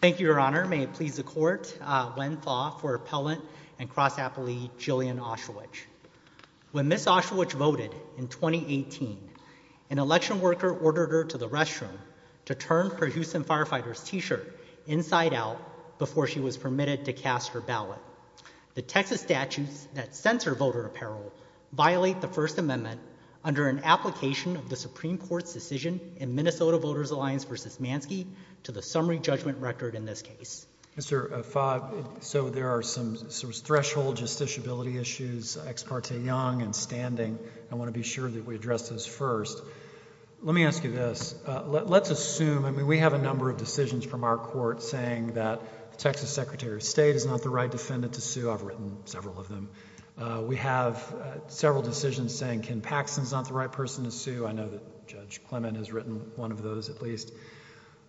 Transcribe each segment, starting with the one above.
Thank you, Your Honor. May it please the Court, Gwen Thawe for Appellant and Cross-Appley Jillian Osherwich. When Ms. Osherwich voted in 2018, an election worker ordered her to the restroom to turn her Houston Firefighters t-shirt inside out before she was permitted to cast her ballot. The Texas statutes that censor voter apparel violate the First Amendment under an application of the Supreme Court's decision in Minnesota Voters Alliance v. Mansky to the summary judgment record in this case. Mr. Fogg, so there are some threshold justiciability issues, ex parte young and standing. I want to be sure that we address those first. Let me ask you this. Let's assume, I mean, we have a number of decisions from our court saying that the Texas Secretary of State is not the right defendant to sue. I've written several of them. We have several decisions saying Ken Paxson is not the right person to sue. I know that Judge Clement has written one of those at least.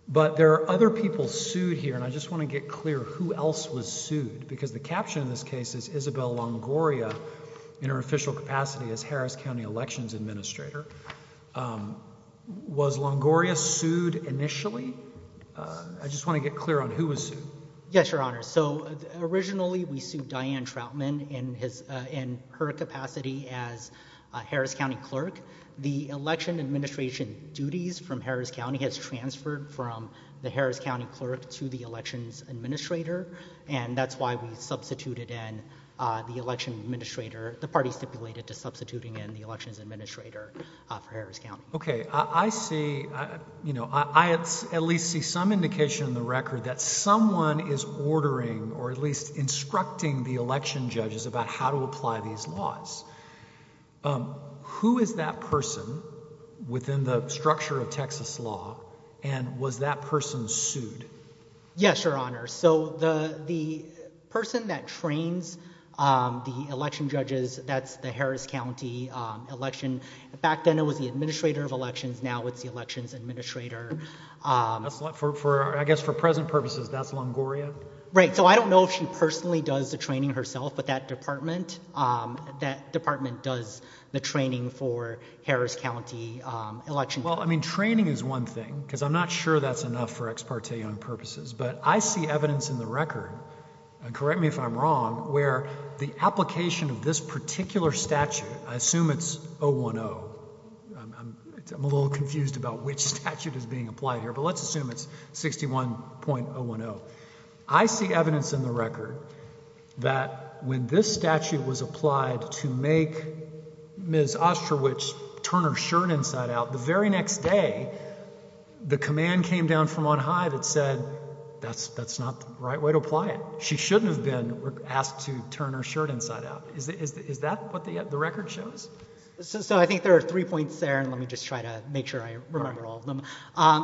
But there are other people sued here and I just want to get clear who else was sued because the caption in this case is Isabel Longoria in her official capacity as Harris County Elections Administrator. Was Longoria sued initially? I just want to get clear on who was sued. Yes, Your Honor. So, originally we sued Diane Troutman in her capacity as Harris County Clerk. The election administration duties from Harris County has transferred from the Harris County Clerk to the Elections Administrator and that's why we substituted in the Election Administrator, the party stipulated to substituting in the Elections Administrator for Harris County. Okay. I see, you know, I at least see some indication in the record that someone is ordering or at least instructing the election judges about how to apply these laws. Who is that person within the structure of Texas law and was that person sued? Yes, Your Honor. So, the person that trains the election judges, that's the Harris County Election, back then it was the Administrator of Elections, now it's the Elections Administrator. I guess for present purposes, that's Longoria? Right. So, I don't know if she personally does the training herself, but that department does the training for Harris County Election. Well, I mean, training is one thing because I'm not sure that's enough for ex parte on purposes, but I see evidence in the record, correct me if I'm wrong, where the application of this particular statute, I assume it's 010. I'm a little confused about which statute is being applied here, but let's assume it's 61.010. I see evidence in the record that when this statute was applied to make Ms. Ostrowich turn her shirt inside out, the very next day, the command came down from on high that said that's not the right way to apply it. She shouldn't have been asked to turn her shirt inside out. Is that what the record shows? So, I think there are three points there, and let me just try to make sure I remember all of them.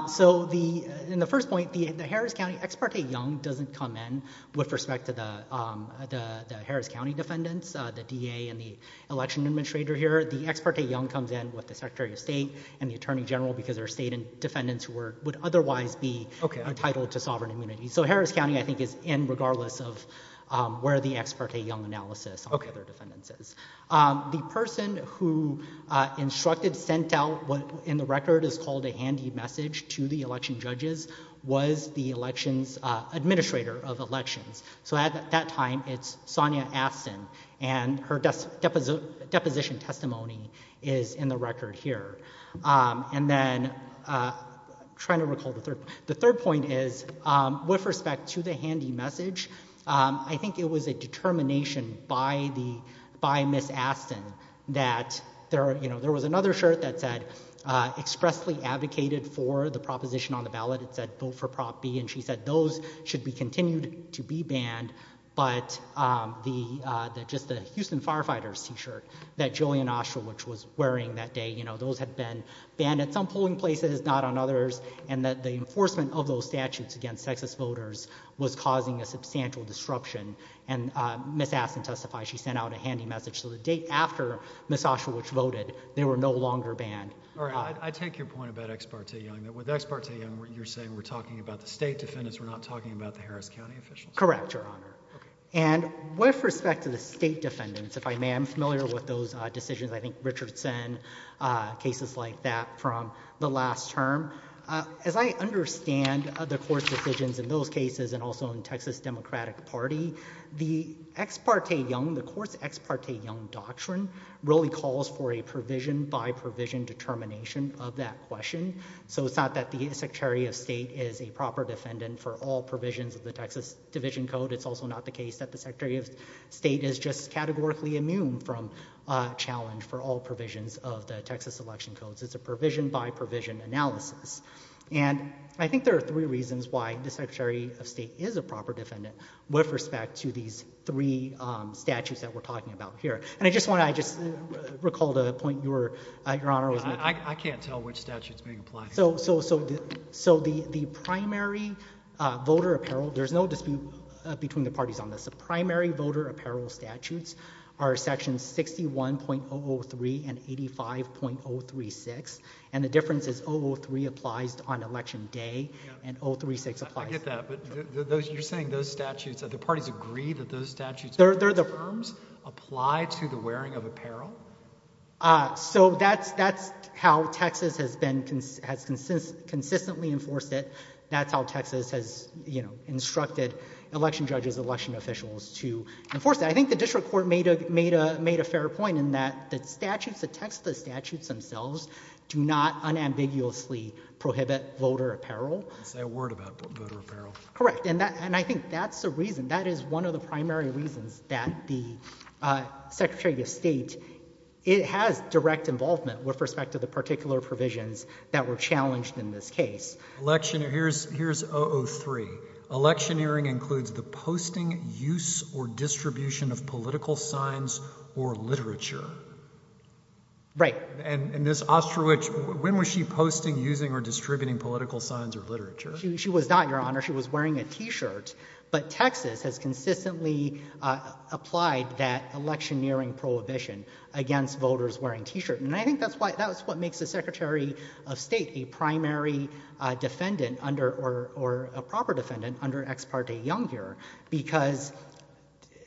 So, in the first point, the Harris County ex parte young doesn't come in with respect to the Harris County defendants, the DA and the Election Administrator here. The ex parte young comes in with the Secretary of State and the Attorney General because they're state defendants who would otherwise be entitled to sovereign immunity. So, Harris County, I think, is in regardless of where the ex parte young analysis of other defendants is. The person who instructed, sent out what in the record is called a handy message to the election judges was the elections administrator of elections. So, at that time, it's Sonia Astin, and her deposition testimony is in the record here. And then, trying to recall the third, the third point is, with respect to the handy message, I think it was a determination by the, by Ms. Astin that there, you know, there was another shirt that said expressly advocated for the proposition on the ballot. It said vote for Prop B, and she said those should be continued to be banned, but the, just the Houston Firefighters t-shirt that Jillian Oshel, which was wearing that day, you know, those had been banned at some polling places, not on others, and that the enforcement of those statutes against sexist voters was causing a substantial disruption. And Ms. Astin testified, she sent out a handy message to the date after Ms. Oshel, which voted, they were no longer banned. All right. I take your point about ex parte young, that with ex parte young, you're saying we're talking about the state defendants, we're not talking about the Harris County officials? Correct, Your Honor. Okay. And with respect to the state defendants, if I may, I'm familiar with those decisions, I think Richardson, cases like that from the last term. As I understand the court's decisions in those cases, and also in Texas Democratic Party, the ex parte young, the court's ex parte young doctrine really calls for a provision by provision determination of that question. So it's not that the Secretary of State is a proper defendant for all provisions of the Texas Division Code. It's also not the case that the Secretary of State is just categorically immune from a challenge for all provisions of the Texas Election Codes. It's a provision by provision analysis. And I think there are three reasons why the Secretary of State is a proper defendant with respect to these three statutes that we're talking about here. And I just want to, I just recall the point you were, Your Honor, was making. I can't tell which statute's being applied. So the primary voter apparel, there's no dispute between the parties on this. The primary voter apparel statutes are sections 61.003 and 85.036. And the difference is 003 applies on election day, and 036 applies... I get that. But you're saying those statutes, the parties agree that those statutes... They're the... ...apply to the wearing of apparel? So that's how Texas has consistently enforced it. That's how Texas has, you know, instructed election judges, election officials to enforce it. I think the district court made a fair point in that the statutes, the Texas statutes themselves do not unambiguously prohibit voter apparel. Say a word about voter apparel. Correct. And I think that's the reason, that is one of the primary reasons that the Secretary of State, it has direct involvement with respect to the particular provisions that were challenged in this case. Election, here's, here's 003. Electioneering includes the posting, use, or distribution of political signs or literature. Right. And, and this Ostrowich, when was she posting, using, or distributing political signs or literature? She was not, Your Honor. She was wearing a t-shirt. But Texas has consistently applied that electioneering prohibition against voters wearing t-shirt. And I think that's why, that's what makes the Secretary of State a primary defendant under, or, or a proper defendant under ex parte young here. Because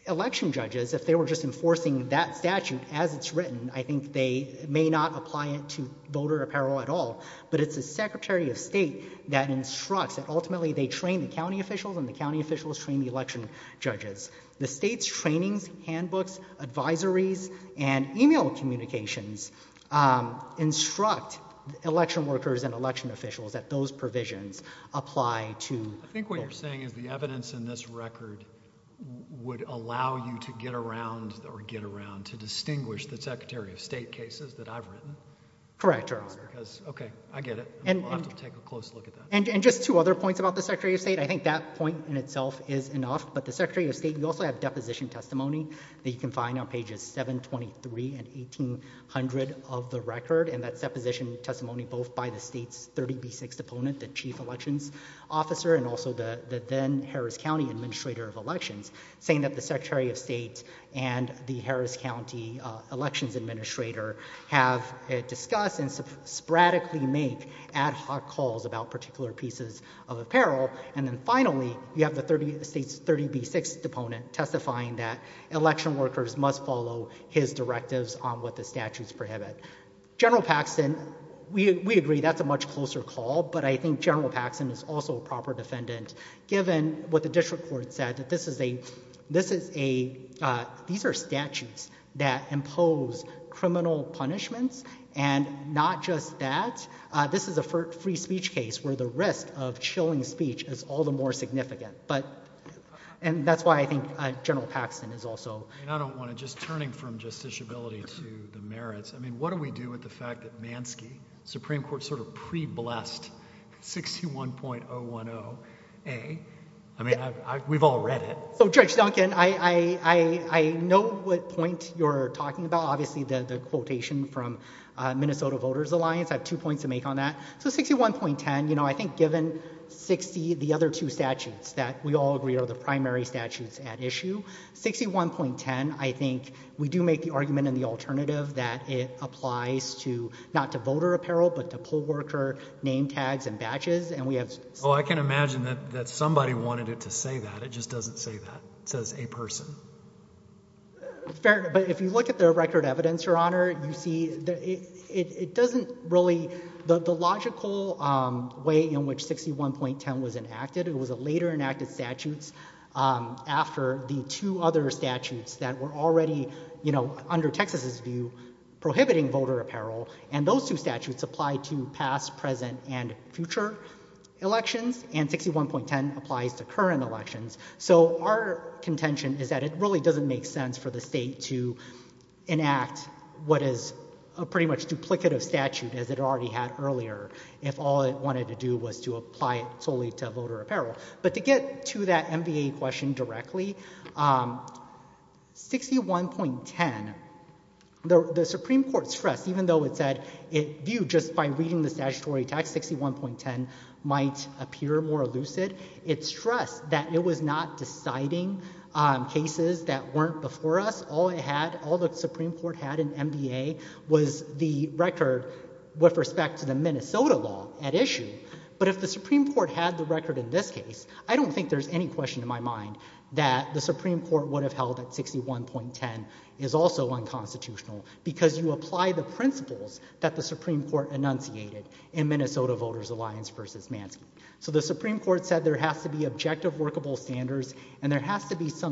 election judges, if they were just enforcing that statute as it's written, I think they may not apply it to voter apparel at all. But it's the Secretary of State that instructs, that ultimately they train the county officials and the county officials train the election judges. The state's trainings, handbooks, advisories, and email communications, um, instruct election workers and election officials that those provisions apply to voters. I think what you're saying is the evidence in this record would allow you to get around, or get around, to distinguish the Secretary of State cases that I've written? Correct, Your Honor. Because, okay, I get it. We'll have to take a close look at that. And just two other points about the Secretary of State. I think that point in itself is enough. But the Secretary of State, you also have deposition testimony that you can find on pages 723 and 1800 of the record. And that's deposition testimony both by the state's 30B6 opponent, the Chief Elections Officer, and also the, the then Harris County Administrator of Elections, saying that the Secretary of State and the Harris County Elections Administrator have discussed and sporadically make ad hoc calls about particular pieces of apparel. And then finally, you have the 30, the state's 30B6 opponent testifying that election workers must follow his directives on what the statutes prohibit. General Paxton, we, we agree that's a much closer call, but I think General Paxton is also a proper defendant, given what the district court said, that this is a, this is a, uh, these are statutes that impose criminal punishments. And not just that, uh, this is a free speech case where the risk of chilling speech is all the more significant. But, and that's why I think, uh, General Paxton is also... And I don't want to, just turning from justiciability to the merits, I mean, what do we do with the fact that Mansky, Supreme Court sort of pre-blessed 61.010A? I mean, we've all read it. So Judge Duncan, I, I, I know what point you're talking about. Obviously the, the quotation from Minnesota Voters Alliance, I have two points to make on that. So 61.10, you know, I think given 60, the other two statutes that we all agree are the primary statutes at issue, 61.10, I think we do make the argument in the alternative that it applies to not to voter apparel, but to poll worker name tags and batches. And we have... Oh, I can imagine that, that somebody wanted it to say that. It just doesn't say that. It says a person. Fair. But if you look at the record evidence, Your Honor, you see that it, it doesn't really, the, the logical way in which 61.10 was enacted, it was a later enacted statutes after the two other statutes that were already, you know, under Texas's view, prohibiting voter apparel. And those two statutes apply to past, present and future elections. And 61.10 applies to current elections. So our contention is that it really doesn't make sense for the state to enact what is a pretty much duplicative statute as it already had earlier, if all it wanted to do was to apply it solely to voter apparel. But to get to that MVA question directly, 61.10, the Supreme Court stressed, even though it said it viewed just by reading the statutory text, 61.10 might appear more before us. All it had, all the Supreme Court had in MVA was the record with respect to the Minnesota law at issue. But if the Supreme Court had the record in this case, I don't think there's any question in my mind that the Supreme Court would have held that 61.10 is also unconstitutional because you apply the principles that the Supreme Court enunciated in Minnesota Voters Alliance v. Mansky. So the Supreme Court said there has to be objective and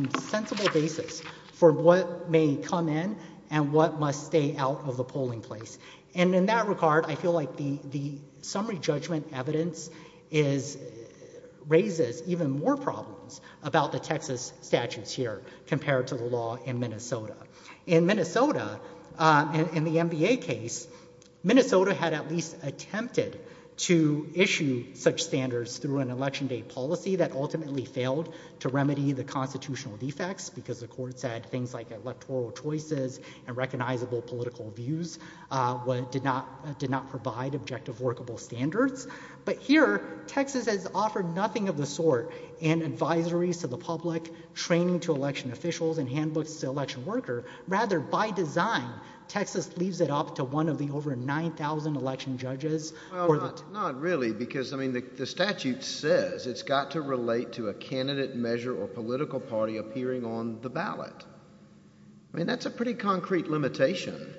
a sensible basis for what may come in and what must stay out of the polling place. And in that regard, I feel like the, the summary judgment evidence is, raises even more problems about the Texas statutes here compared to the law in Minnesota. In Minnesota, uh, in the MVA case, Minnesota had at least attempted to issue such standards through an election mandate policy that ultimately failed to remedy the constitutional defects because the courts had things like electoral choices and recognizable political views, uh, what did not, did not provide objective workable standards. But here, Texas has offered nothing of the sort in advisories to the public, training to election officials and handbooks to election worker. Rather, by design, Texas leaves it up to one of the over 9,000 election judges or the. Not really, because I mean, the statute says it's got to relate to a candidate measure or political party appearing on the ballot. I mean, that's a pretty concrete limitation.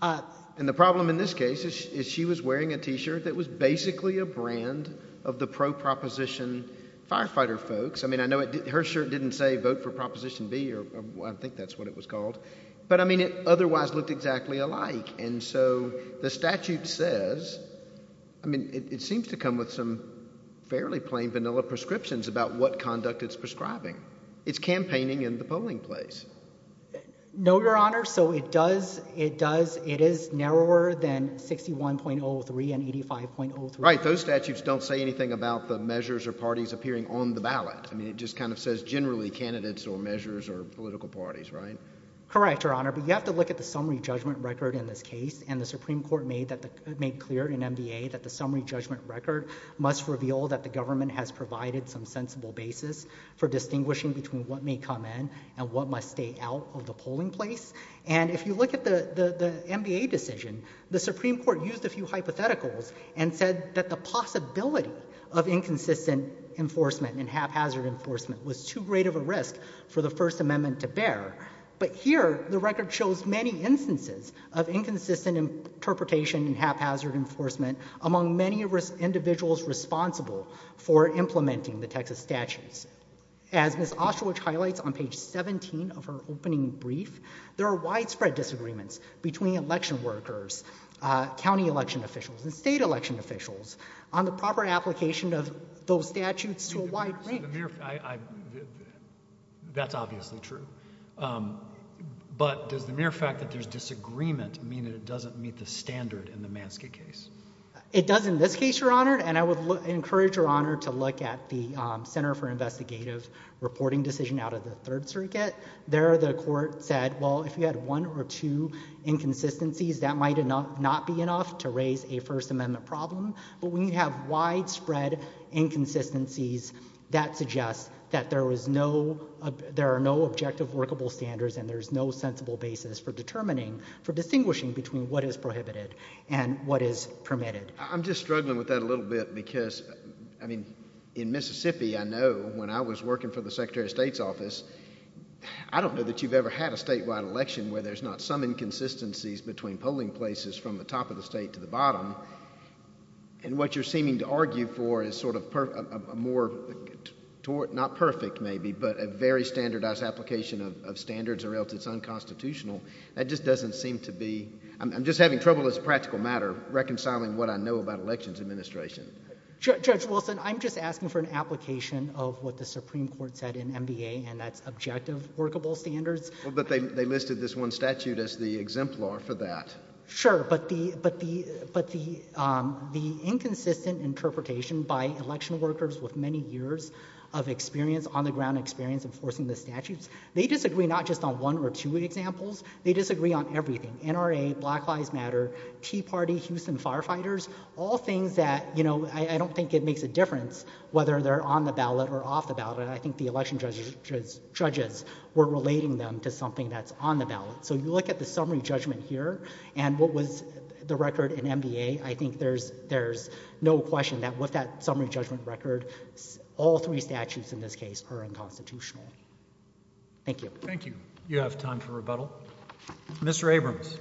Uh, and the problem in this case is, is she was wearing a t-shirt that was basically a brand of the pro proposition firefighter folks. I mean, I know it, her shirt didn't say vote for Proposition B or I think that's what it was called. But I mean, it otherwise looked exactly alike. And so the statute says, I mean, it seems to come with some fairly plain vanilla prescriptions about what conduct it's prescribing. It's campaigning in the polling place. No, Your Honor. So it does. It does. It is narrower than 61.03 and 85.03. Right. Those statutes don't say anything about the measures or parties appearing on the ballot. I mean, it just kind of says generally candidates or measures or political parties, right? Correct, Your Honor. But you have to look at the summary judgment record in this case. And the Supreme Court made that, made clear in MBA that the summary judgment record must reveal that the government has provided some sensible basis for distinguishing between what may come in and what must stay out of the polling place. And if you look at the, the, the MBA decision, the Supreme Court used a few hypotheticals and said that the possibility of inconsistent enforcement and haphazard enforcement was too great of a risk for the First Amendment to bear. But here, the record shows many instances of inconsistent interpretation and haphazard enforcement among many individuals responsible for implementing the Texas statutes. As Ms. Ostrowich highlights on page 17 of her opening brief, there are widespread disagreements between election workers, county election officials, and state election officials on the proper application of those statutes to a wide range. So the mere, I, I, that's obviously true. Um, but does the mere fact that there's disagreement mean that it doesn't meet the standard in the Manskate case? It does in this case, Your Honor. And I would encourage Your Honor to look at the, um, Center for Investigative Reporting decision out of the Third Circuit. There, the court said, well, if you had one or two inconsistencies, that might not be enough to raise a First Amendment case. If you had one or two inconsistencies, that suggests that there was no, uh, there are no objective workable standards and there's no sensible basis for determining, for distinguishing between what is prohibited and what is permitted. I'm just struggling with that a little bit because, I mean, in Mississippi, I know when I was working for the Secretary of State's office, I don't know that you've ever had a statewide election where there's not some inconsistencies between polling places from the top of the state to the bottom. And what you're seeming to argue for is sort of a more, not perfect maybe, but a very standardized application of, of standards or else it's unconstitutional. That just doesn't seem to be, I'm, I'm just having trouble as a practical matter reconciling what I know about elections administration. Judge, Judge Wilson, I'm just asking for an application of what the Supreme Court said in MVA and that's objective workable standards. Well, but they, they listed this one statute as the exemplar for that. Sure, but the, but the, but the, um, the inconsistent interpretation by election workers with many years of experience, on the ground experience enforcing the statutes, they disagree not just on one or two examples, they disagree on everything. NRA, Black Lives Matter, Tea Party, Houston Firefighters, all things that, you know, I, I don't think it makes a difference whether they're on the ballot or off the ballot. I think the election judges, judges were relating them to something that's on the ballot. So you look at the summary judgment here and what was the record in MVA, I think there's, there's no question that with that summary judgment record, all three statutes in this case are unconstitutional. Thank you. Thank you. You have time for rebuttal. Mr. Abrams.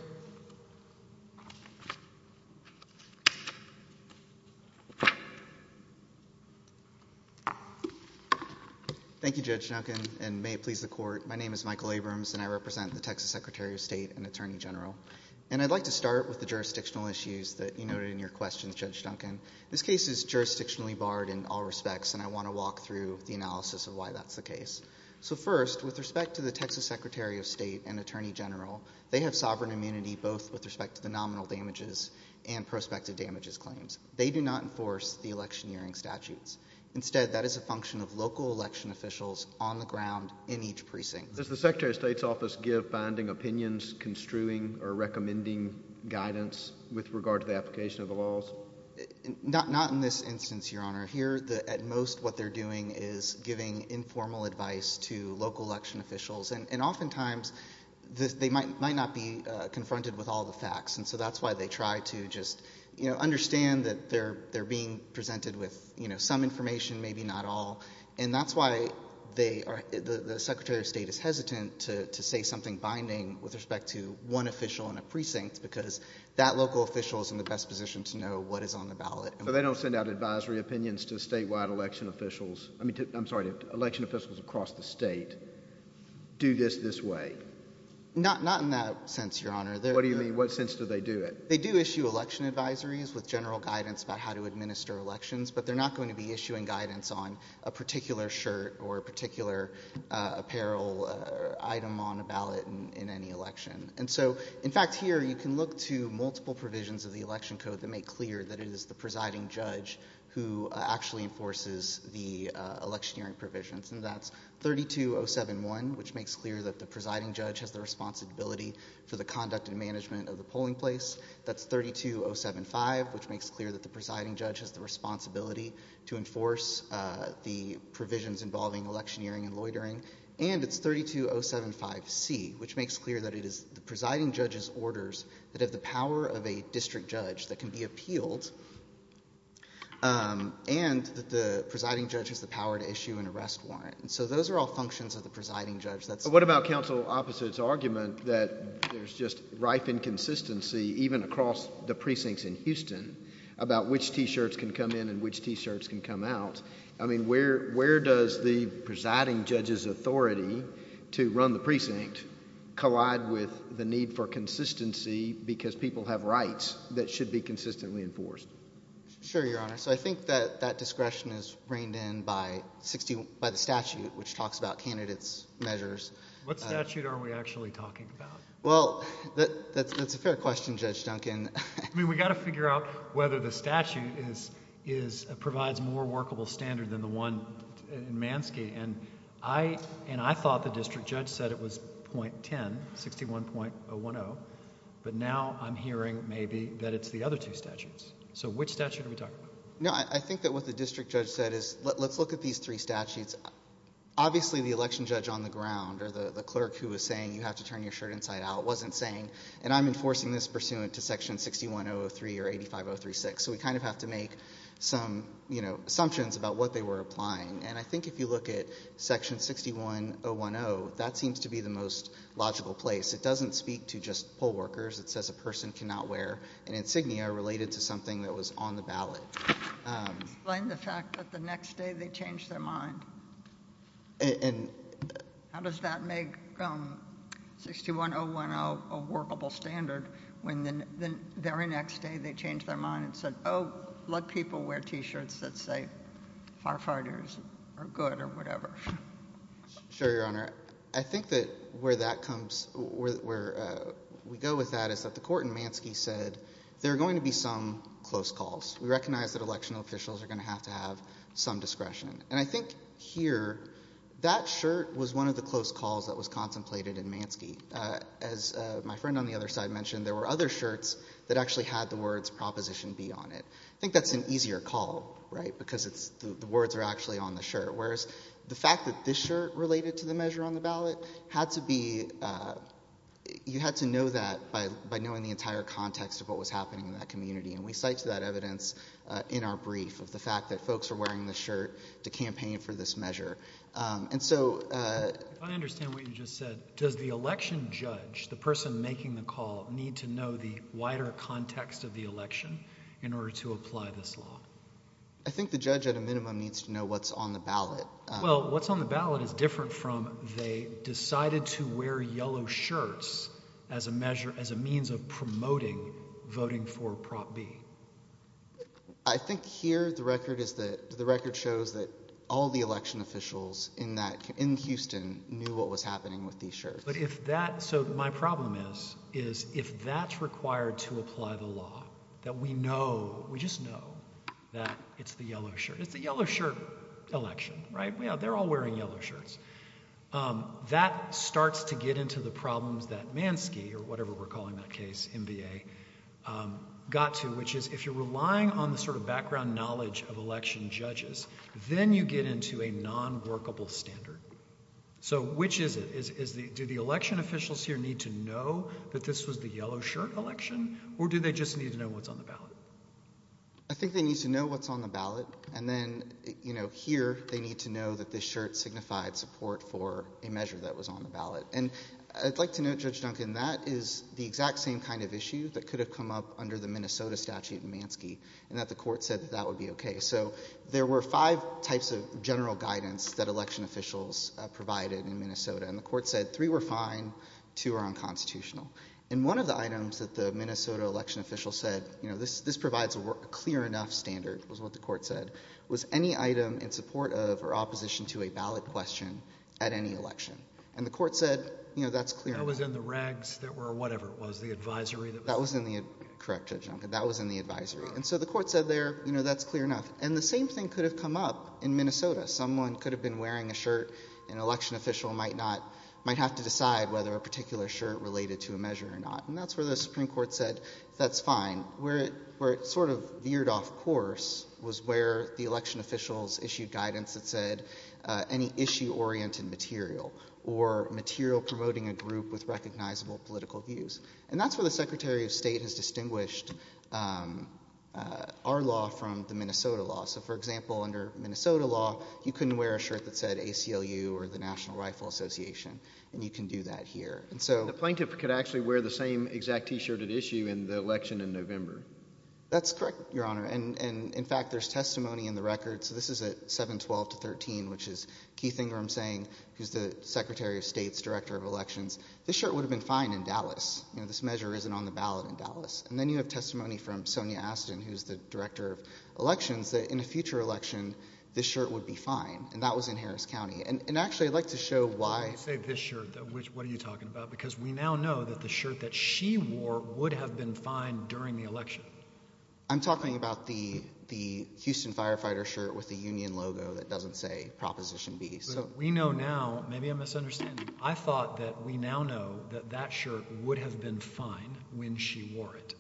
Thank you, Judge Duncan, and may it please the court. My name is Michael Abrams and I represent the Texas Secretary of State and Attorney General. And I'd like to start with the jurisdictional issues that you noted in your questions, Judge Duncan. This case is jurisdictionally barred in all respects and I want to walk through the analysis of why that's the case. So first, with respect to the Texas Secretary of State and Attorney General, they have sovereign immunity both with respect to the nominal damages and prospective damages claims. They do not enforce the election hearing statutes. Instead, that is a function of local election officials on the ground in each precinct. Does the Secretary of State's office give binding opinions, construing or recommending guidance with regard to the application of the laws? Not, not in this instance, Your Honor. Here, the, at most what they're doing is giving informal advice to local election officials. And oftentimes, they might not be confronted with all the facts. And so that's why they try to just, you know, understand that they're being presented with, you know, some information, maybe not all. And that's why they are, the Secretary of State is hesitant to say something binding with respect to one official in a precinct because that local official is in the best position to know what is on the ballot. So they don't send out advisory opinions to statewide election officials? I mean, I'm sorry, to election officials across the state, do this this way? Not, not in that sense, Your Honor. What do you mean? What sense do they do it? They do issue election advisories with general guidance about how to administer elections, but they're not going to be issuing guidance on a particular shirt or a particular apparel item on a ballot in any election. And so, in fact, here you can look to multiple provisions of the election code that make clear that it is the presiding judge who actually enforces the election hearing provisions. And that's 32071, which makes clear that the presiding judge has the responsibility for the conduct and management of the polling place. That's 32075, which makes clear that the presiding judge has the responsibility to enforce the provisions involving election hearing and loitering. And it's 32075C, which makes clear that it is the presiding judge's orders that have the power of a district judge that can be appealed, um, and that the presiding judge has the power to issue an arrest warrant. And so those are all functions of the presiding judge. What about counsel opposite's argument that there's just rife inconsistency even across the precincts in Houston about which t-shirts can come in and which t-shirts can come out? I mean, where, where does the presiding judge's authority to run the precinct collide with the need for consistency because people have rights that should be consistently enforced? Sure, your honor. So I think that that discretion is reined in by 60 by the statute, which talks about candidates measures. What statute are we actually talking about? Well, that's a fair question. Judge Duncan. I mean, we got to figure out whether the statute is is provides more workable standard than the one in Mansky. And I, and I thought the district judge said it was .10, 61.010. But now I'm hearing maybe that it's the other two statutes. So which statute are we talking about? No, I think that what the district judge said is let's look at these three statutes. Obviously the election judge on the ground or the clerk who was saying you have to turn your shirt inside out wasn't saying, and I'm enforcing this pursuant to section 6103 or 85036. So we kind of have to make some, you know, assumptions about what they were applying. And I think if you look at section 61010, that seems to be the most logical place. It doesn't speak to just poll workers. It says a person cannot wear an insignia related to something that was on the ballot. Explain the fact that the next day they changed their mind. And how does that make 61010 a workable standard when the very next day they changed their mind? I don't let people wear T-shirts that say firefighters are good or whatever. Sure, Your Honor. I think that where that comes, where we go with that is that the court in Mansky said there are going to be some close calls. We recognize that election officials are going to have to have some discretion. And I think here that shirt was one of the close calls that was contemplated in Mansky. As my friend on the other side mentioned, there were other shirts that actually had the words Proposition B on it. I think that's an easier call, right? Because the words are actually on the shirt. Whereas the fact that this shirt related to the measure on the ballot had to be, you had to know that by knowing the entire context of what was happening in that community. And we cite to that evidence in our brief of the fact that folks are wearing the shirt to campaign for this measure. And so... If I understand what you just said, does the election judge, the person making the call, need to know the wider context of the election in order to apply this law? I think the judge at a minimum needs to know what's on the ballot. Well, what's on the ballot is different from they decided to wear yellow shirts as a measure, as a means of promoting voting for Prop B. I think here the record is that, the record shows that all the election officials in that, in Houston, knew what was happening with these shirts. But if that, so my problem is, is if that's required to apply the law, that we know, we just know, that it's the yellow shirt. It's the yellow shirt election, right? Yeah, they're all wearing yellow shirts. That starts to get into the problems that Mansky, or whatever we're calling that case, MVA, got to, which is if you're relying on the sort of background knowledge of election judges, then you get into a non-workable standard. So which is it? Is the, do the election officials here need to know that this was the yellow shirt election? Or do they just need to know what's on the ballot? I think they need to know what's on the ballot. And then, you know, here, they need to know that this shirt signified support for a measure that was on the ballot. And I'd like to note, Judge Duncan, that is the exact same kind of issue that could have come up under the Minnesota statute in Mansky, and that the court said that that would be okay. So there were five types of general guidance that election officials provided in Minnesota, and the court said three were fine, two were unconstitutional. And one of the items that the Minnesota election official said, you know, this provides a clear enough standard, was what the court said, was any item in support of or opposition to a ballot question at any election. And the court said, you know, that's clear enough. That was in the regs that were, whatever it was, the advisory that was... That was in the, correct Judge Duncan, that was in the advisory. And so the court said there, you know, that's clear enough. And the same thing could have come up in Minnesota. Someone could have been wearing a shirt, and an election official might not, might have to decide whether a particular shirt related to a measure or not. And that's where the Supreme Court said, that's fine. Where it sort of veered off course was where the election officials issued guidance that said any issue-oriented material, or material promoting a group with recognizable political views. And that's where the Secretary of State has distinguished our law from the Minnesota law. So for example, under Minnesota law, you couldn't wear a shirt that said ACLU or the National Rifle Association. And you can do that here. And so... The plaintiff could actually wear the same exact T-shirt at issue in the election in November. That's correct, Your Honor. And in fact, there's testimony in the record. So this is at 7-12 to 13, which is Keith Ingram saying, who's the Secretary of State's Director of Elections. This shirt would have been fine in Dallas. You know, this measure isn't on the ballot in Dallas. And then you have testimony from Sonia Astin, who's the Director of Elections, that in a future election, this shirt would be fine. And that was in Harris County. And actually, I'd like to show why... You say this shirt. What are you talking about? Because we now know that the shirt that she wore would have been fine during the election. I'm talking about the Houston Firefighter shirt with the union logo that doesn't say Proposition B. But we know now, maybe I'm misunderstanding. I thought that we now know that that shirt would have been fine when she wore it.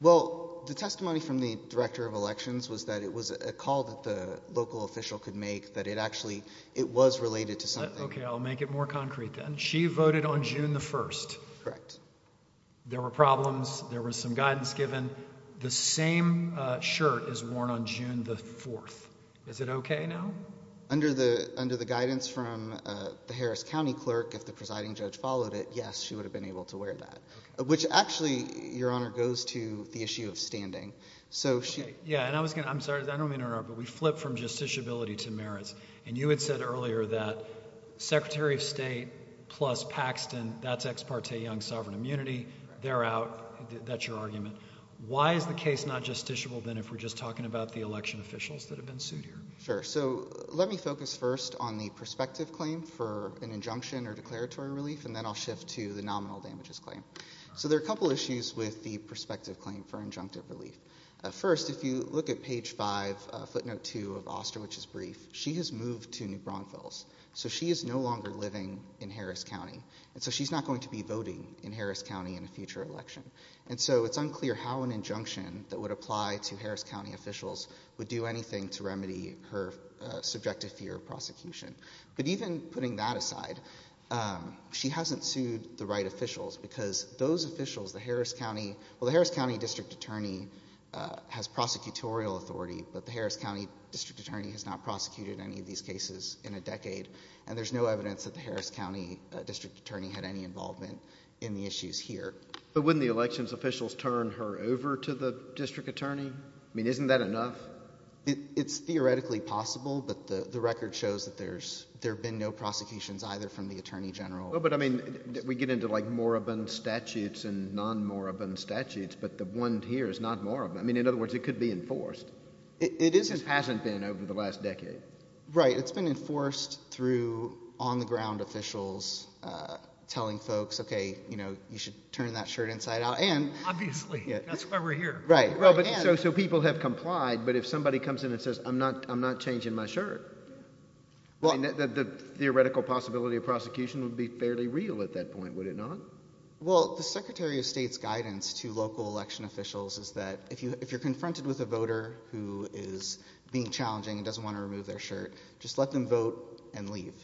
Well, the testimony from the Director of Elections was that it was a call that the local official could make, that it actually, it was related to something. Okay, I'll make it more concrete then. She voted on June the 1st. Correct. There were problems. There was some guidance given. The same shirt is worn on June the 4th. Is it okay now? Under the guidance from the Harris County clerk, if the presiding judge followed it, yes, she would have been able to wear that. Which actually, Your Honor, goes to the issue of standing. Yeah, and I was going to, I'm sorry, I don't mean to interrupt, but we flip from justiciability to merits. And you had said earlier that Secretary of State plus Paxton, that's ex parte young sovereign immunity. They're out. That's your argument. Why is the case not justiciable then if we're just talking about the election officials that have been sued here? Sure. So let me focus first on the prospective claim for an injunction or declaratory relief, and then I'll shift to the nominal damages claim. So there are a couple issues with the prospective claim for injunctive relief. First, if you look at page 5, footnote 2 of Osterwich's brief, she has moved to New Braunfels. So she is no longer living in Harris County. And so she's not going to be voting in Harris County in a future election. And so it's unclear how an injunction that would apply to Harris County officials would do anything to remedy her subjective fear of prosecution. But even putting that aside, she hasn't sued the right officials because those officials, the Harris County, well, the Harris County District Attorney has prosecutorial authority, but the Harris County District Attorney has not prosecuted any of these cases in a decade. And there's no evidence that the Harris County District Attorney had any involvement in the issues here. But wouldn't the elections officials turn her over to the District Attorney? I mean, isn't that enough? It's theoretically possible, but the record shows that there's there been no prosecutions either from the Attorney General. But I mean, we get into like moribund statutes and non-moribund statutes, but the one here is not moribund. I mean, in other words, it could be enforced. It hasn't been over the last decade. Right. It's been enforced through on-the-ground officials telling folks, OK, you know, you should turn that shirt inside out. And obviously that's why we're here. Right. So people have complied. But if somebody comes in and says, I'm not I'm not changing my shirt, well, the theoretical possibility of prosecution would be fairly real at that point, would it not? Well, the Secretary of State's guidance to local election officials is that if you if you're confronted with a voter who is being challenging and doesn't want to remove their shirt, just let them vote and leave,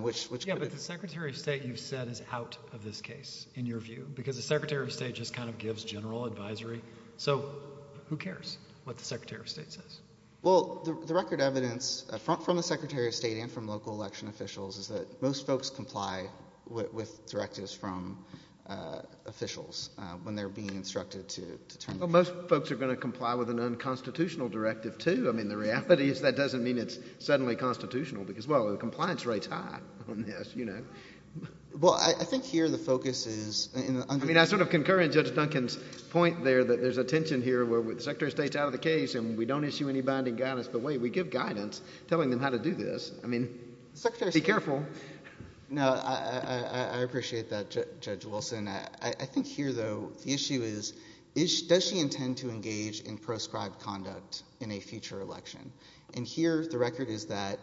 which the Secretary of State, you've said, is out of this case, in your view, because the Secretary of State just kind of gives general advisory. So who cares what the Secretary of State says? Well, the record evidence from the Secretary of State and from local election officials is that most folks comply with directives from officials when they're being instructed to turn. Most folks are going to comply with an unconstitutional directive, too. I mean, the reality is that doesn't mean it's suddenly constitutional because, well, the compliance rate's high on this, you know. Well, I think here the focus is in the I mean, I sort of concur in Judge Duncan's point there that there's a tension here where the Secretary of State's out of the case and we don't issue any binding guidance. But wait, we give guidance telling them how to do this. I mean, be careful. No, I appreciate that, Judge Wilson. I think here, though, the issue is, does she intend to engage in proscribed conduct in a future election? And here the record is that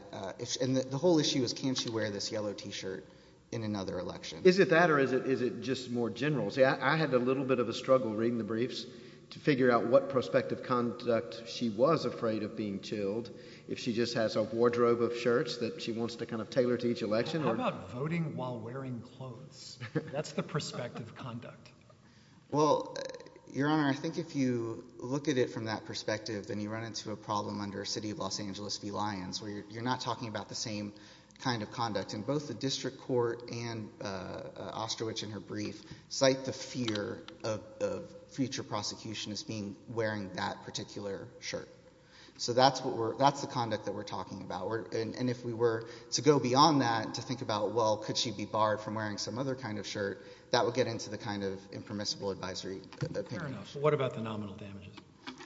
and the whole issue is, can she wear this yellow T-shirt in another election? Is it that or is it is it just more general? See, I had a little bit of a struggle reading the briefs to figure out what prospective conduct she was afraid of being chilled. If she just has a wardrobe of shirts that she wants to kind of tailor to each election or... How about voting while wearing clothes? That's the prospective conduct. Well, Your Honor, I think if you look at it from that perspective, then you run into a problem under City of Los Angeles v. Lyons where you're not talking about the same kind of conduct. And both the district court and Osterwich in her brief cite the fear of future prosecution as being wearing that particular shirt. So that's what we're... that's the conduct that we're talking about. And if we were to go beyond that to think about, well, could she be barred from wearing some other kind of shirt, that would get into the kind of impermissible advisory opinion. Fair enough. What about the nominal damages?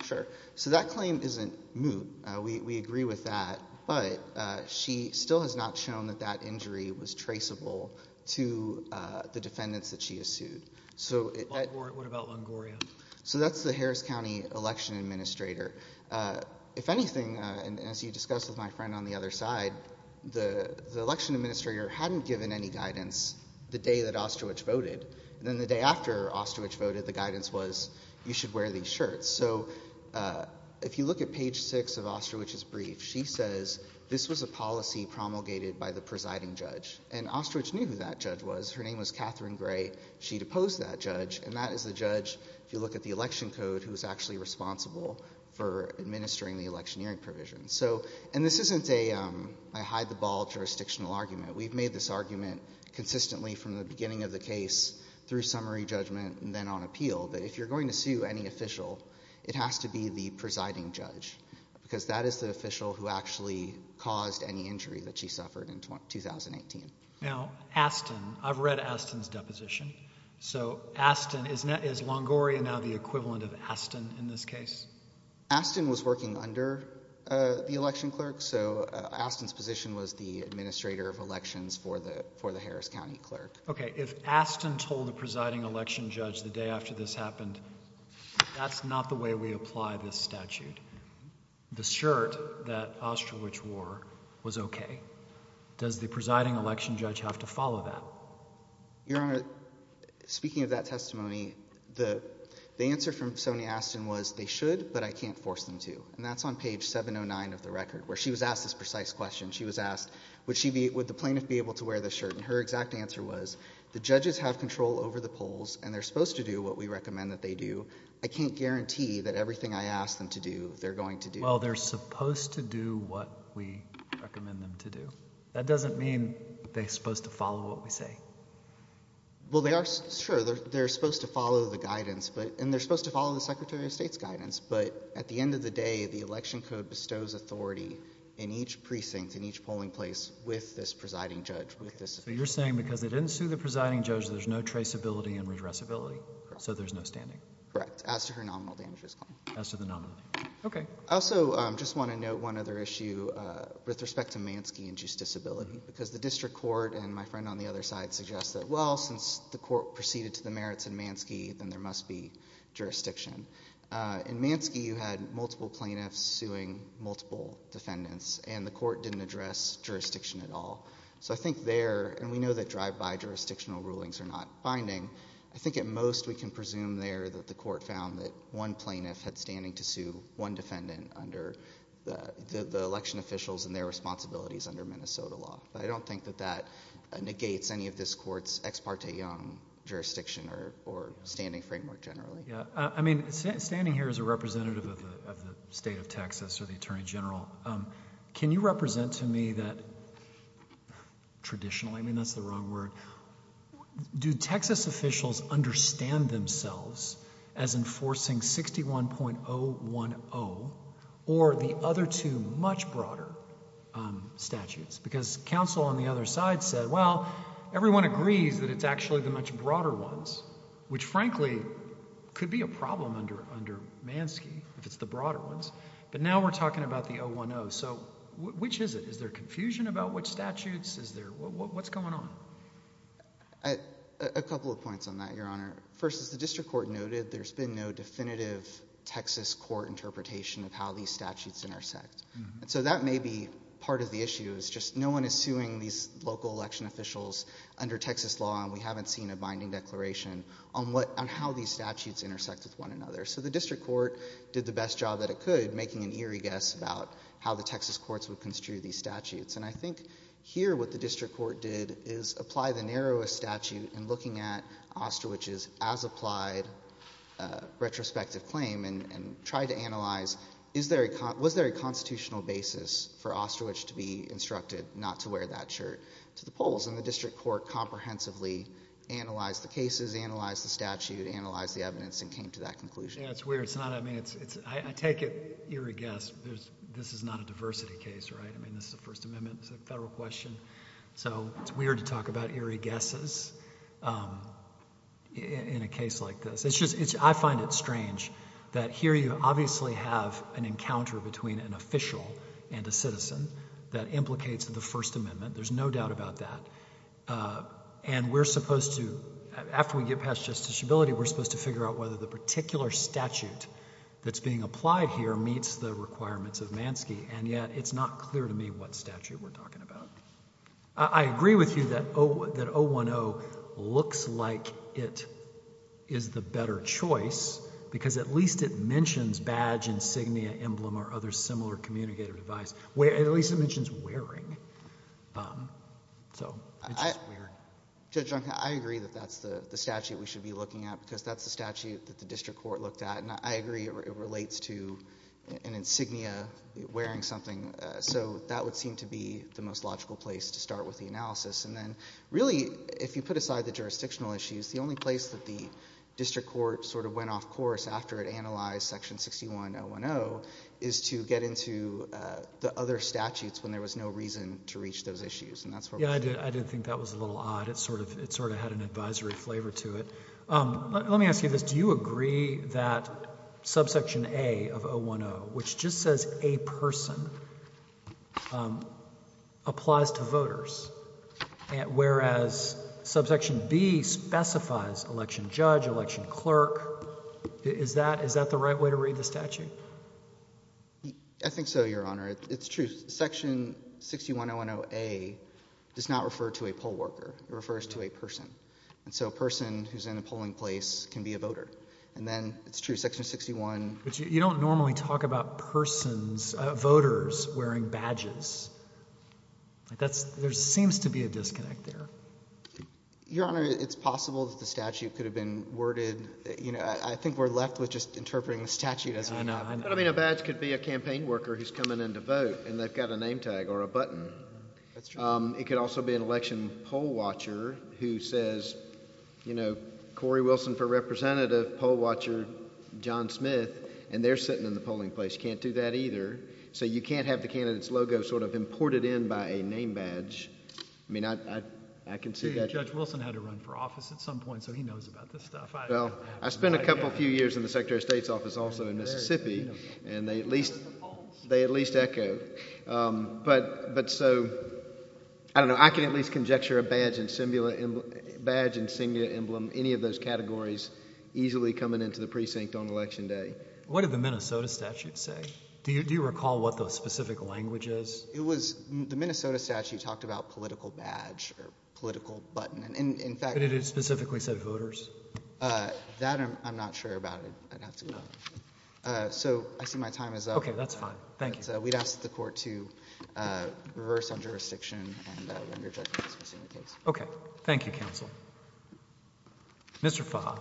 Sure. So that claim isn't moot. We agree with that. But she still has not shown that that injury was traceable to the defendants that she has sued. So... What about Longoria? So that's the Harris County Election Administrator. If anything, and as you discussed with my friend on the other side, the Election Administrator hadn't given any guidance the day that Osterwich voted. And then the day after Osterwich voted, the guidance was you should wear these shirts. So if you look at page six of Osterwich's brief, she says this was a policy promulgated by the presiding judge. And Osterwich knew who that judge was. Her name was Catherine Gray. She'd opposed that judge. And that is the judge, if you look at the election code, who's actually responsible for administering the electioneering provisions. So... and this isn't a hide-the-ball jurisdictional argument. We've made this argument consistently from the beginning of the case through summary judgment and then on appeal. That if you're going to sue any official, it has to be the presiding judge. Because that is the official who actually caused any injury that she suffered in 2018. Now Aston, I've read Aston's deposition. So Aston, is Longoria now the equivalent of Aston in this case? Aston was working under the election clerk. So Aston's position was the Administrator of Elections for the Harris County Clerk. Okay, if Aston told the presiding election judge the day after this happened, that's not the way we apply this statute. The shirt that Osterwich wore was okay. Does the presiding election judge have to follow that? Your Honor, speaking of that testimony, the answer from Sonia Aston was, they should, but I can't force them to. And that's on page 709 of the record, where she was asked this precise question. She was asked, would the plaintiff be able to wear this shirt? And her exact answer was, the judges have control over the polls, and they're supposed to do what we recommend that they do. I can't guarantee that everything I ask them to do, they're going to do. Well, they're supposed to do what we recommend them to do. That doesn't mean they're supposed to follow what we say. Well, they are, sure, they're supposed to follow the guidance, and they're supposed to follow the Secretary of State's guidance. But at the end of the day, the election code bestows authority in each precinct, in each precinct. So you're saying, because they didn't sue the presiding judge, there's no traceability and redressability? Correct. So there's no standing? Correct. As to her nominal damages claim. As to the nominal damages claim. Okay. I also just want to note one other issue with respect to Manski and juice disability, because the district court and my friend on the other side suggest that, well, since the court proceeded to the merits in Manski, then there must be jurisdiction. In Manski, you had multiple plaintiffs suing multiple defendants, and the court didn't address jurisdiction at all. So I think there, and we know that drive-by jurisdictional rulings are not binding, I think at most we can presume there that the court found that one plaintiff had standing to sue one defendant under the election officials and their responsibilities under Minnesota law. But I don't think that that negates any of this court's ex parte jurisdiction or standing framework generally. Yeah. I mean, standing here as a representative of the state of Texas or the Attorney General, can you represent to me that, traditionally, I mean, that's the wrong word, do Texas officials understand themselves as enforcing 61.010 or the other two much broader statutes? Because counsel on the other side said, well, everyone agrees that it's actually the much broader ones, which frankly could be a problem under Manski if it's the broader ones. But now we're talking about the 010. So which is it? Is there confusion about which statutes? Is there, what's going on? A couple of points on that, Your Honor. First, as the district court noted, there's been no definitive Texas court interpretation of how these statutes intersect. So that may be part of the issue, is just no one is suing these local election officials under Texas law, and we haven't seen a binding declaration on how these statutes intersect with one another. So the district court did the best job that it could, making an eerie guess about how the Texas courts would construe these statutes. And I think here what the district court did is apply the narrowest statute and looking at Osterwich's as-applied retrospective claim and tried to analyze, was there a constitutional basis for Osterwich to be instructed not to wear that shirt to the polls? And the district court comprehensively analyzed the cases, analyzed the statute, analyzed the evidence, and came to that conclusion. Yeah, it's weird. It's not, I mean, it's, I take it eerie guess. This is not a diversity case, right? I mean, this is a First Amendment, it's a federal question. So it's weird to talk about eerie guesses in a case like this. It's just, I find it strange that here you obviously have an encounter between an official and a citizen that implicates the First Amendment. There's no doubt about that. And we're supposed to, after we get past justiciability, we're supposed to figure out whether the particular statute that's being applied here meets the requirements of Manski. And yet, it's not clear to me what statute we're talking about. I agree with you that 010 looks like it is the better choice because at least it mentions badge, insignia, emblem, or other similar communicative device, at least it mentions wearing. So, it's just weird. Judge Juncker, I agree that that's the statute we should be looking at because that's the statute that the district court looked at. And I agree it relates to an insignia, wearing something. So that would seem to be the most logical place to start with the analysis. And then, really, if you put aside the jurisdictional issues, the only place that the district court sort of went off course after it analyzed Section 61010 is to get into the other statutes when there was no reason to reach those issues. And that's where we should be. Yeah. I didn't think that was a little odd. It sort of had an advisory flavor to it. Let me ask you this. Do you agree that subsection A of 010, which just says a person, applies to voters, whereas subsection B specifies election judge, election clerk? Is that the right way to read the statute? I think so, Your Honor. It's true. Section 61010A does not refer to a poll worker. It refers to a person. And so a person who's in a polling place can be a voter. And then, it's true, Section 61010A. You don't normally talk about persons, voters, wearing badges. There seems to be a disconnect there. Your Honor, it's possible that the statute could have been worded. I know. But, I mean, a badge could be a campaign worker who's coming in to vote, and they've got a name tag or a button. That's true. It could also be an election poll watcher who says, you know, Cori Wilson for representative, poll watcher John Smith, and they're sitting in the polling place. You can't do that either. So you can't have the candidate's logo sort of imported in by a name badge. I mean, I can see that. See, Judge Wilson had to run for office at some point, so he knows about this stuff. Well, I spent a couple, few years in the Secretary of State's office also in Mississippi, and they at least echo. But so, I don't know, I can at least conjecture a badge and singular emblem, any of those categories easily coming into the precinct on Election Day. What did the Minnesota statute say? Do you recall what the specific language is? It was, the Minnesota statute talked about political badge or political button. But did it specifically say voters? That I'm not sure about. So I see my time is up. Okay. That's fine. Thank you. We'd ask the court to reverse on jurisdiction and render judgment on this particular case. Okay. Thank you, counsel. Mr. Fah.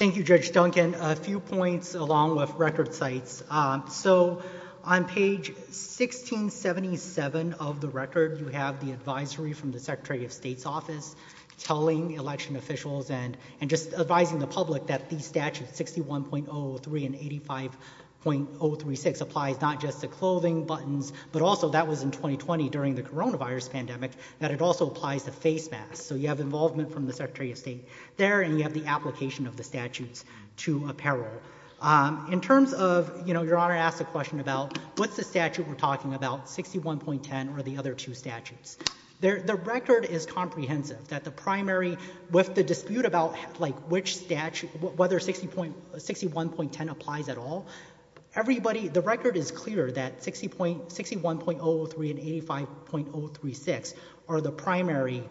Thank you, Judge Duncan. A few points along with record sites. So, on page 1677 of the record, you have the advisory from the Secretary of State's office telling election officials and, and just advising the public that the statute 61.03 and 85.036 applies not just to clothing buttons, but also that was in 2020 during the coronavirus pandemic, that it also applies to face masks. So you have involvement from the Secretary of State there and you have the application of the statutes to apparel. In terms of, you know, Your Honor asked a question about what's the statute we're talking about, 61.10 or the other two statutes. The record is comprehensive that the primary, with the dispute about like which statute, whether 61.10 applies at all, everybody, the record is clear that 61.03 and 85.036 are the primary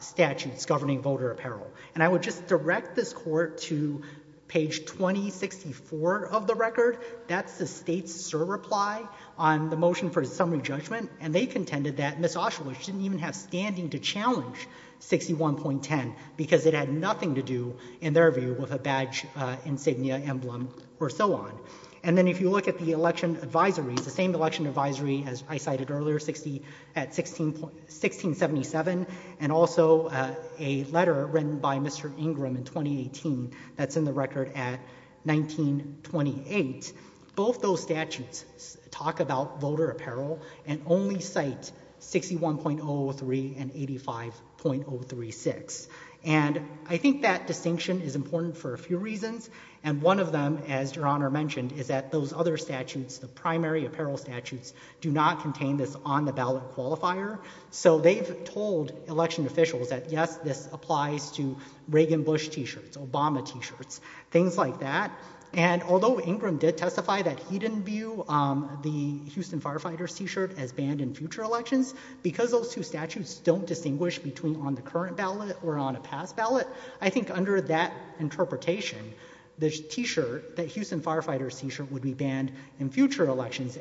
statutes governing voter apparel. And I would just direct this court to page 2064 of the record. That's the state's reply on the motion for summary judgment. And they contended that Ms. Oshelich didn't even have standing to challenge 61.10 because it had nothing to do, in their view, with a badge, insignia, emblem, or so on. And then if you look at the election advisories, the same election advisory as I cited earlier, 1677, and also a letter written by Mr. Ingram in 2018 that's in the record at 1928. Both those statutes talk about voter apparel and only cite 61.03 and 85.036. And I think that distinction is important for a few reasons, and one of them, as Your Honor mentioned, is that those other statutes, the primary apparel statutes, do not contain this on-the-ballot qualifier. So they've told election officials that, yes, this applies to Reagan-Bush T-shirts, Obama T-shirts, things like that. And although Ingram did testify that he didn't view the Houston Firefighters T-shirt as banned in future elections, because those two statutes don't distinguish between on the current ballot or on a past ballot, I think under that interpretation, the T-shirt, the Houston Firefighters T-shirt, would be banned in future elections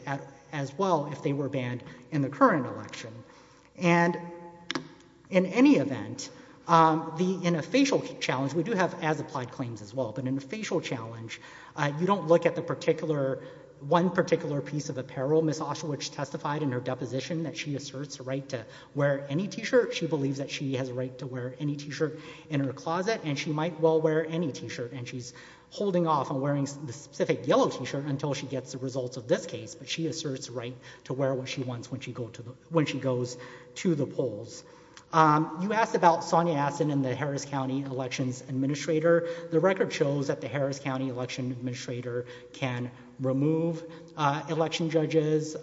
as well if they were banned in the current election. And in any event, in a facial challenge, we do have as-applied claims as well, but in a facial challenge, you don't look at the particular, one particular piece of apparel. Ms. Auschwitz testified in her deposition that she asserts the right to wear any T-shirt. She believes that she has a right to wear any T-shirt in her closet, and she might well wear any T-shirt. And she's holding off on wearing the specific yellow T-shirt until she gets the results of this case. But she asserts the right to wear what she wants when she goes to the polls. You asked about Sonia Astin and the Harris County Elections Administrator. The record shows that the Harris County Election Administrator can remove election judges.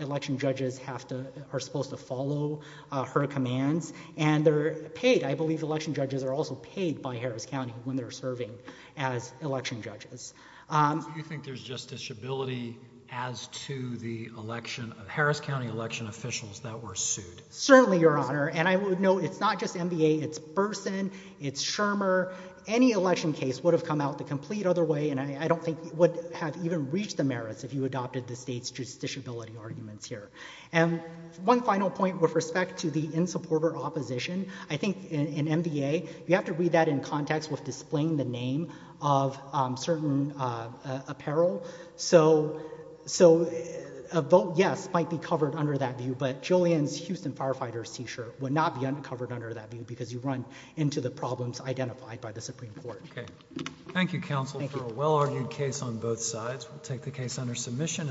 Election judges have to, are supposed to follow her commands. And they're paid. I believe election judges are also paid by Harris County when they're serving as election judges. Do you think there's justiciability as to the election, Harris County election officials that were sued? Certainly, Your Honor. And I would note, it's not just NBA, it's Burson, it's Shermer. Any election case would have come out the complete other way, and I don't think it would have even reached the merits if you adopted the state's justiciability arguments here. And one final point with respect to the in-supporter opposition, I think in NBA, you have to read that in context with displaying the name of certain apparel. So a vote yes might be covered under that view, but Julian's Houston Firefighters T-shirt would not be covered under that view because you run into the problems identified by the Supreme Court. Okay. Thank you, counsel, for a well-argued case on both sides. We'll take the case under submission.